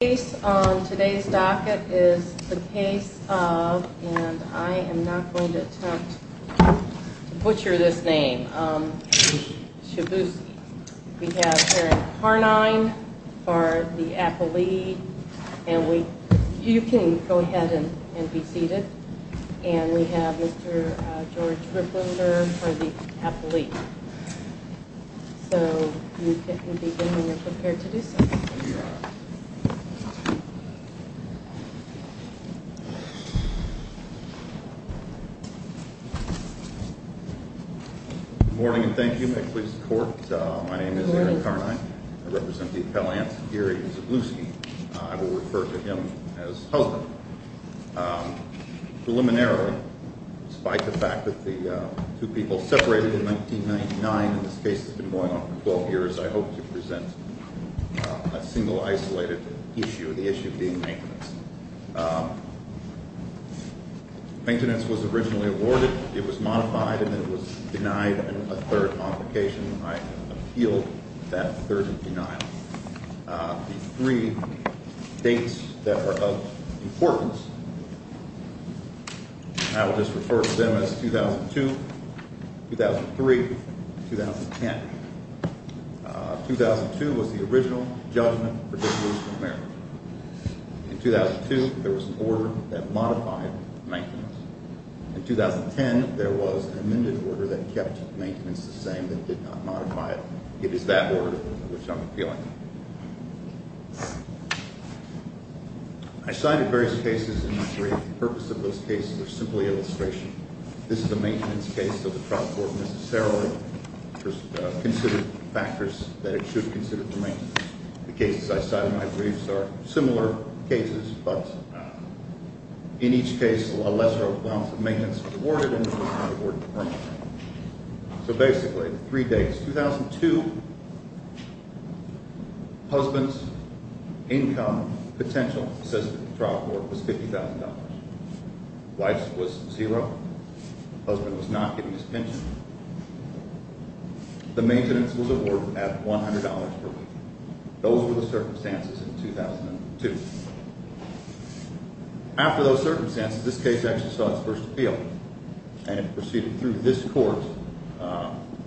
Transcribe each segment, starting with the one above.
The case on today's docket is the case of, and I am not going to attempt to butcher this name, Szczeblewski. We have Karen Carnine for the appellee, and you can go ahead and be seated. And we have Mr. George Ripplinger for the appellee. So you can begin when you're prepared to do so. Good morning and thank you. May it please the Court. My name is Aaron Carnine. I represent the appellants Geary and Szczeblewski. I will refer to him as husband. Preliminarily, despite the fact that the two people separated in 1999 and this case has been going on for 12 years, I hope to present a single isolated issue, the issue being maintenance. Maintenance was originally awarded. It was modified and then it was denied a third complication. I appealed that third denial. The three dates that are of importance, I will just refer to them as 2002, 2003, and 2010. 2002 was the original judgment for the District of Maryland. In 2002, there was an order that modified maintenance. In 2010, there was an amended order that kept maintenance the same, but did not modify it. It is that order which I'm appealing. I cited various cases in this brief. The purpose of those cases are simply illustration. This is a maintenance case, so the trial court necessarily considered factors that it should consider for maintenance. The cases I cite in my briefs are similar cases, but in each case, a lesser amount of maintenance was awarded and it was not awarded permanently. So basically, three dates. 2002, husband's income potential, says that the trial court, was $50,000. Wife's was zero. Husband was not getting his pension. The maintenance was awarded at $100 per week. Those were the circumstances in 2002. After those circumstances, this case actually saw its first appeal and it proceeded through this court.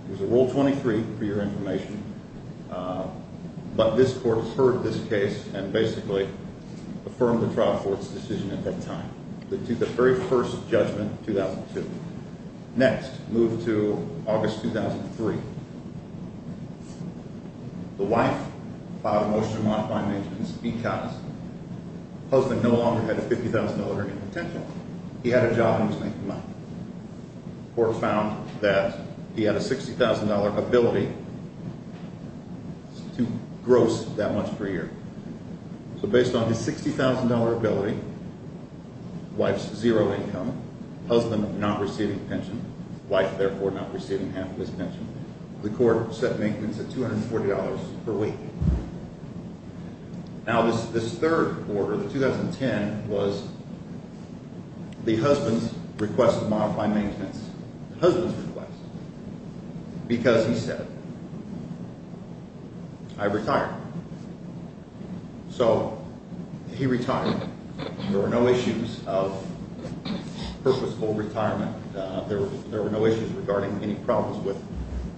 There's a Rule 23 for your information, but this court heard this case and basically affirmed the trial court's decision at that time. The very first judgment in 2002. Next, move to August 2003. The wife filed a motion to modify maintenance because husband no longer had a $50,000 earning potential. He had a job and was making money. Court found that he had a $60,000 ability. It's too gross that much per year. So based on his $60,000 ability, wife's zero income, husband not receiving pension, wife therefore not receiving half of his pension, the court set maintenance at $240 per week. Now this third order, the 2010, was the husband's request to modify maintenance. The husband's request. Because he said, I retire. So he retired. There were no issues of purposeful retirement. There were no issues regarding any problems with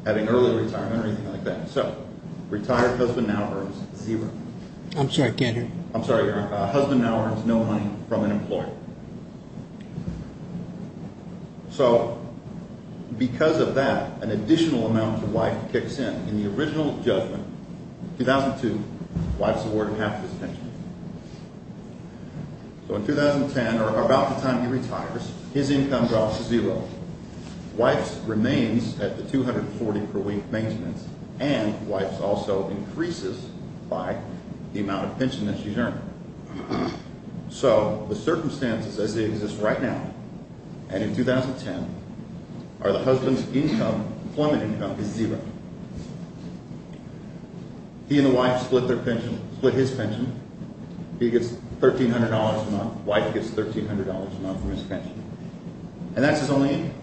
having early retirement or anything like that. So retired husband now earns zero. I'm sorry, I can't hear you. I'm sorry, Your Honor. Husband now earns no money from an employer. So because of that, an additional amount to wife kicks in. In the original judgment, 2002, wife's awarded half of his pension. So in 2010, or about the time he retires, his income drops to zero. Wife's remains at the $240 per week maintenance, and wife's also increases by the amount of pension that she's earned. So the circumstances as they exist right now, and in 2010, are the husband's income, employment income, is zero. He and the wife split their pension, split his pension. He gets $1,300 a month. Wife gets $1,300 a month from his pension. And that's his only income.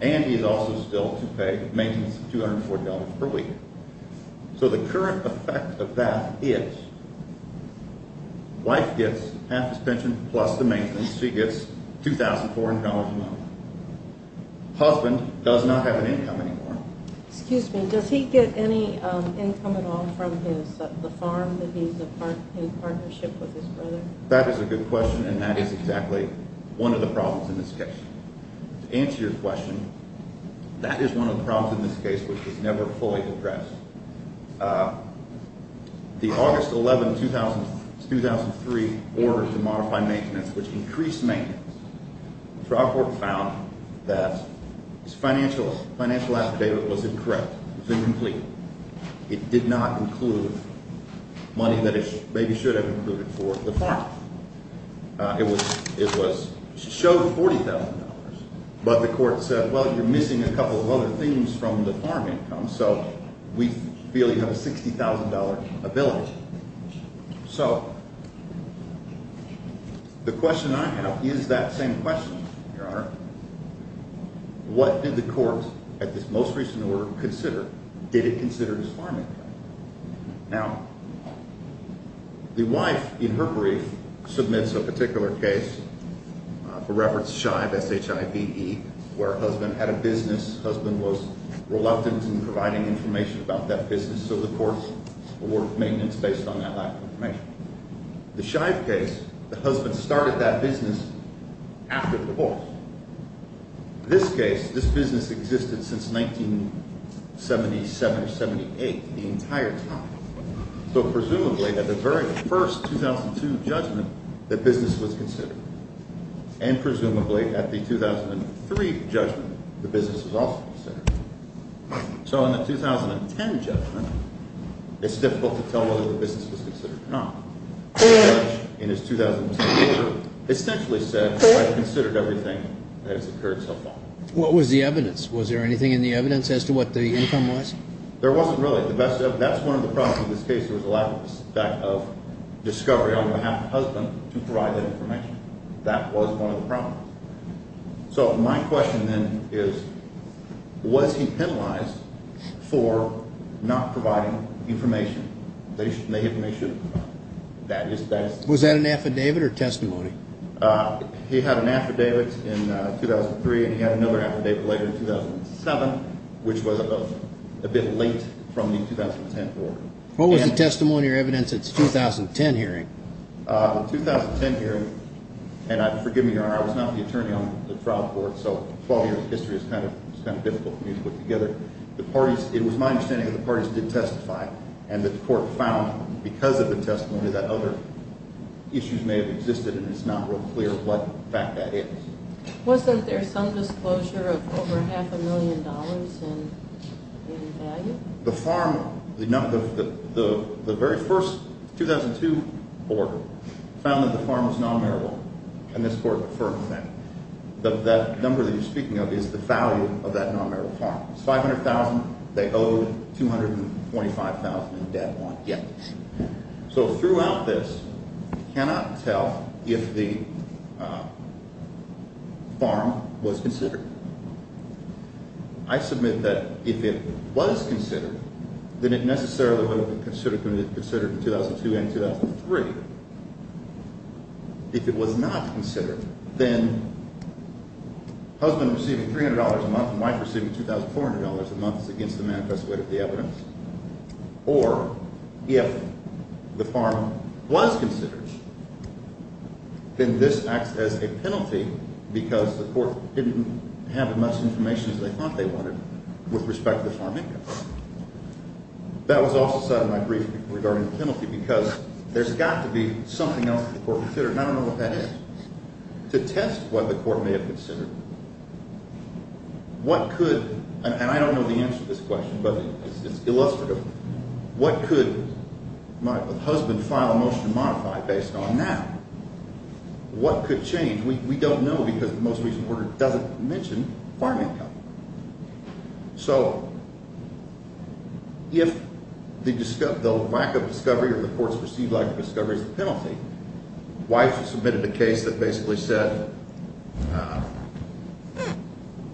And he is also still to pay maintenance $240 per week. So the current effect of that is wife gets half his pension plus the maintenance. She gets $2,400 a month. Husband does not have an income anymore. Excuse me. Does he get any income at all from the farm that he's in partnership with his brother? That is a good question, and that is exactly one of the problems in this case. To answer your question, that is one of the problems in this case, which was never fully addressed. The August 11, 2003 order to modify maintenance, which increased maintenance, the trial court found that this financial affidavit was incorrect. It was incomplete. It did not include money that it maybe should have included for the farm. It was – showed $40,000. But the court said, well, you're missing a couple of other things from the farm income, so we feel you have a $60,000 ability. So the question I have is that same question, Your Honor. What did the court at this most recent order consider? Did it consider his farm income? Now, the wife, in her brief, submits a particular case, for reference, Shive, S-H-I-V-E, where her husband had a business. Her husband was reluctant in providing information about that business, so the court awarded maintenance based on that lack of information. The Shive case, the husband started that business after the divorce. This case, this business existed since 1977 or 78, the entire time. So presumably at the very first 2002 judgment, the business was considered. And presumably at the 2003 judgment, the business was also considered. So in the 2010 judgment, it's difficult to tell whether the business was considered or not. The judge, in his 2010 order, essentially said, I've considered everything that has occurred so far. What was the evidence? Was there anything in the evidence as to what the income was? There wasn't really. That's one of the problems with this case, was the lack of discovery on behalf of the husband to provide that information. That was one of the problems. So my question then is, was he penalized for not providing information? The information that he should have provided. Was that an affidavit or testimony? He had an affidavit in 2003, and he had another affidavit later in 2007, which was a bit late from the 2010 order. What was the testimony or evidence at the 2010 hearing? The 2010 hearing, and forgive me, Your Honor, I was not the attorney on the trial court, so 12 years of history is kind of difficult for me to put together. It was my understanding that the parties did testify and that the court found because of the testimony that other issues may have existed, and it's not real clear what fact that is. Wasn't there some disclosure of over half a million dollars in value? The very first 2002 order found that the farm was non-marital, and this court deferred from that. That number that you're speaking of is the value of that non-marital farm. It's $500,000. They owed $225,000 in debt on it. So throughout this, you cannot tell if the farm was considered. I submit that if it was considered, then it necessarily would have been considered in 2002 and 2003. If it was not considered, then husband receiving $300 a month and wife receiving $2,400 a month is against the manifest weight of the evidence, or if the farm was considered, then this acts as a penalty because the court didn't have as much information as they thought they wanted with respect to the farm income. That was off the side of my brief regarding the penalty because there's got to be something else that the court considered, and I don't know what that is. To test what the court may have considered, what could—and I don't know the answer to this question, but it's illustrative— what could my husband file a motion to modify based on now? What could change? We don't know because the most recent order doesn't mention farm income. So if the lack of discovery or the court's perceived lack of discovery is the penalty, why is she submitted a case that basically said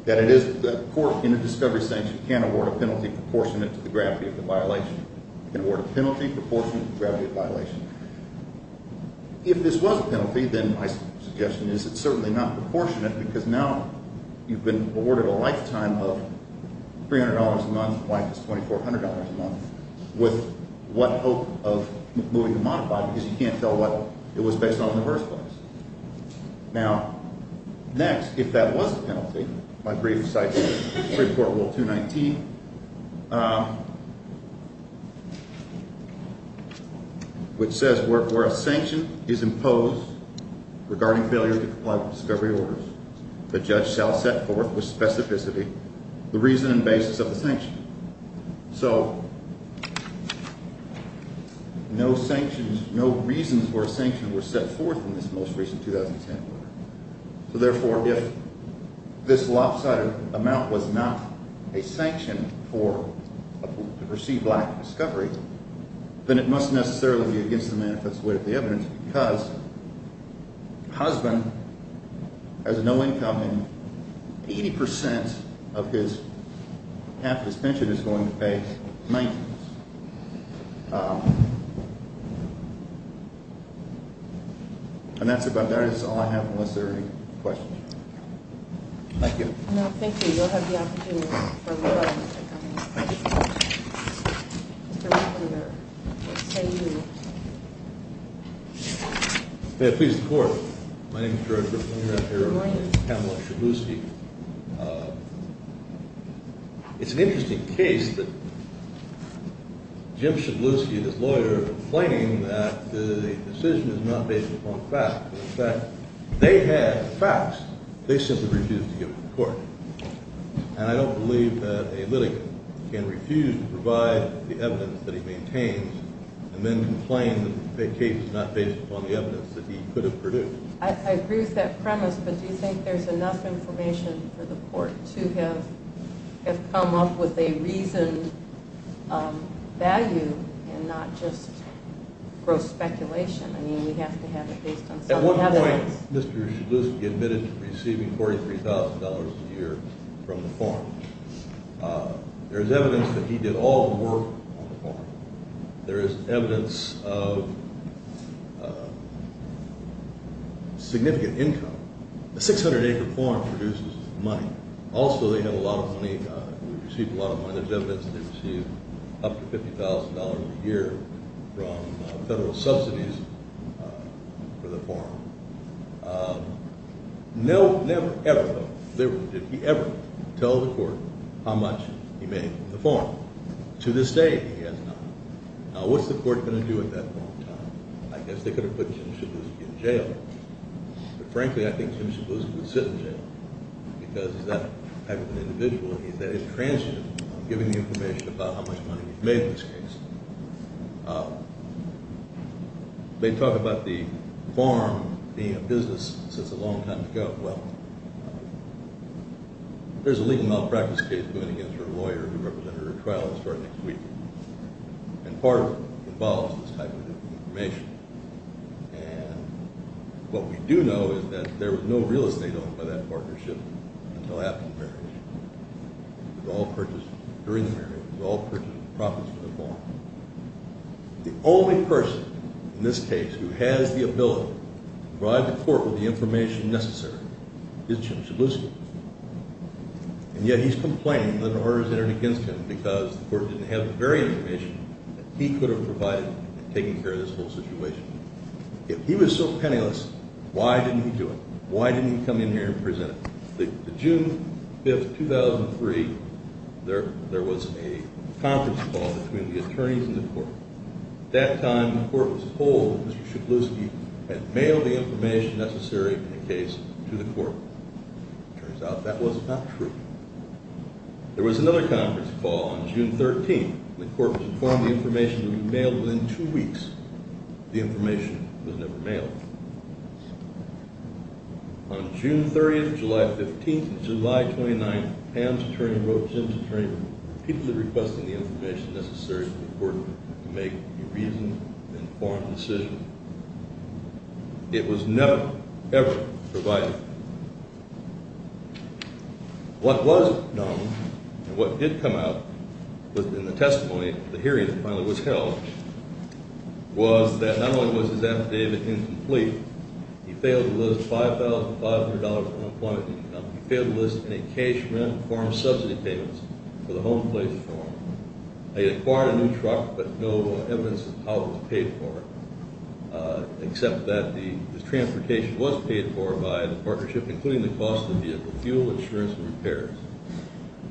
that it is— the court in a discovery sanction can award a penalty proportionate to the gravity of the violation. It can award a penalty proportionate to the gravity of the violation. If this was a penalty, then my suggestion is it's certainly not proportionate because now you've been awarded a lifetime of $300 a month, life is $2,400 a month, with what hope of moving to modify because you can't tell what it was based on in the first place. Now, next, if that was a penalty, my brief cites Supreme Court Rule 219, which says where a sanction is imposed regarding failure to comply with discovery orders, the judge shall set forth with specificity the reason and basis of the sanction. So no sanctions—no reasons for a sanction were set forth in this most recent 2010 order. So therefore, if this lopsided amount was not a sanction for perceived lack of discovery, then it must necessarily be against the manifest way of the evidence because a husband has no income and 80 percent of his half his pension is going to pay maintenance. And that's about—that is all I have, unless there are any questions. Thank you. No, thank you. You'll have the opportunity for more questions. Thank you. Mr. Waffender, let's say you— May it please the Court. My name is George Waffender. I'm here on behalf of Kamala Shibuski. It's an interesting case that Jim Shibuski and his lawyer are complaining that the decision is not based upon fact. In fact, they had facts. They simply refused to give them to the Court. And I don't believe that a litigant can refuse to provide the evidence that he maintains and then complain that the case is not based upon the evidence that he could have produced. I agree with that premise, but do you think there's enough information for the Court to have come up with a reasoned value and not just gross speculation? I mean, we have to have it based on some evidence. At one point, Mr. Shibuski admitted to receiving $43,000 a year from the farm. There's evidence that he did all the work on the farm. There is evidence of significant income. A 600-acre farm produces money. Also, they have a lot of money. We receive a lot of money. There's evidence that they receive up to $50,000 a year from federal subsidies for the farm. Never, ever, did he ever tell the Court how much he made from the farm. To this day, he has not. Now, what's the Court going to do at that point in time? I guess they could have put Jim Shibuski in jail, but frankly, I think Jim Shibuski would sit in jail because he's that type of an individual. He's that intransigent on giving the information about how much money he made in this case. They talk about the farm being a business since a long time ago. There's a legal malpractice case going against her lawyer who represented her trial that started next week. And part of it involves this type of information. And what we do know is that there was no real estate owned by that partnership until after the marriage. It was all purchased during the marriage. It was all purchased in profits from the farm. The only person in this case who has the ability to provide the Court with the information necessary is Jim Shibuski. And yet he's complaining that an order has entered against him because the Court didn't have the very information that he could have provided in taking care of this whole situation. If he was so penniless, why didn't he do it? Why didn't he come in here and present it? On June 5, 2003, there was a conference call between the attorneys and the Court. At that time, the Court was told that Mr. Shibuski had mailed the information necessary in the case to the Court. It turns out that was not true. There was another conference call on June 13. The Court was informed the information would be mailed within two weeks. The information was never mailed. On June 30, July 15, and July 29, Pam's attorney wrote Jim's attorney, repeatedly requesting the information necessary for the Court to make a reasoned and informed decision. It was never, ever provided. What was known, and what did come out in the testimony, the hearing that finally was held, was that not only was his affidavit incomplete, he failed to list $5,500 of unemployment income. He failed to list any cash rent or foreign subsidy payments for the home place for him. He had acquired a new truck, but no evidence of how it was paid for, except that the transportation was paid for by the partnership, including the cost of the vehicle, fuel, insurance, and repairs.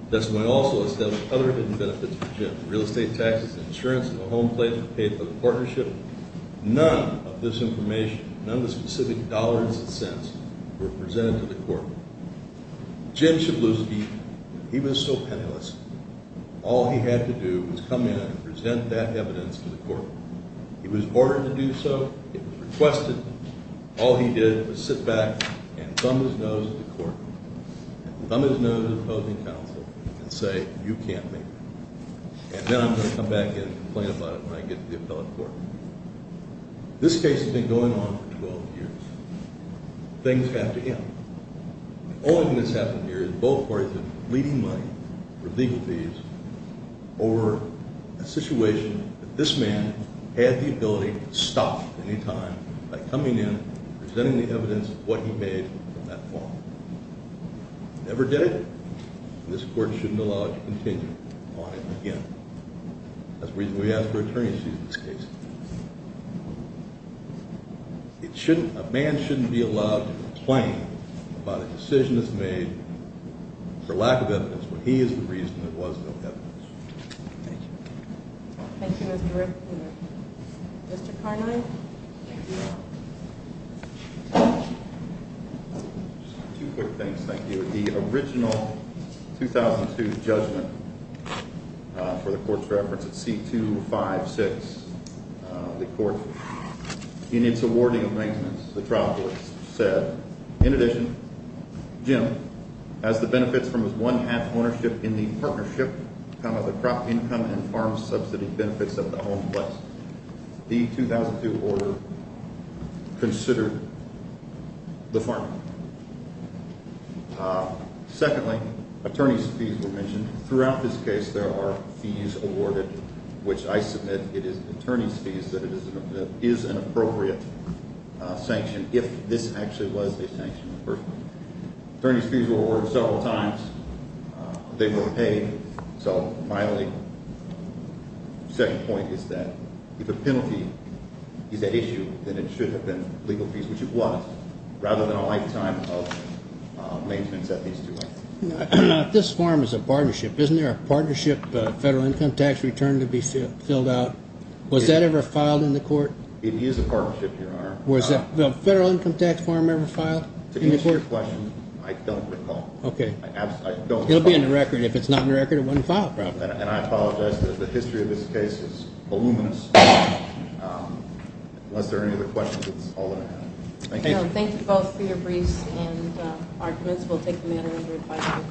The testimony also established other hidden benefits for Jim. Real estate taxes, insurance, and a home place were paid for the partnership. None of this information, none of the specific dollars and cents, were presented to the Court. Jim Shabluski, he was so penniless, all he had to do was come in and present that evidence to the Court. He was ordered to do so. It was requested. All he did was sit back and thumb his nose at the Court. Thumb his nose at the opposing counsel and say, you can't make that. And then I'm going to come back in and complain about it when I get to the appellate court. This case has been going on for 12 years. Things have to end. The only thing that's happened here is both parties have been bleeding money for legal fees over a situation that this man had the ability to stop at any time by coming in and presenting the evidence of what he made on that fall. He never did it, and this Court shouldn't allow it to continue on it again. That's the reason we asked for attorney's fees in this case. A man shouldn't be allowed to complain about a decision that's made for lack of evidence when he is the reason there was no evidence. Thank you. Thank you, Mr. Ripken. Mr. Carnine. Two quick things, thank you. The original 2002 judgment for the Court's reference at C256, the Court, in its awarding of maintenance, the trial court said, in addition, Jim, as the benefits from his one-half ownership in the partnership of the crop income and farm subsidy benefits of the home place, the 2002 order considered the farm. Secondly, attorney's fees were mentioned. Throughout this case, there are fees awarded, which I submit it is attorney's fees, that it is an appropriate sanction if this actually was a sanction in the first place. Attorney's fees were awarded several times. They were paid. So, finally, the second point is that if a penalty is at issue, then it should have been legal fees, which it was, rather than a lifetime of maintenance at these two lengths. This farm is a partnership. Isn't there a partnership federal income tax return to be filled out? Was that ever filed in the Court? It is a partnership, Your Honor. Was the federal income tax farm ever filed in the Court? To answer your question, I don't recall. Okay. I don't recall. It will be on the record. If it's not on the record, it wasn't filed properly. And I apologize. The history of this case is voluminous. Unless there are any other questions, it's all in there. Thank you. Thank you both for your briefs and arguments. We'll take the matter into advice.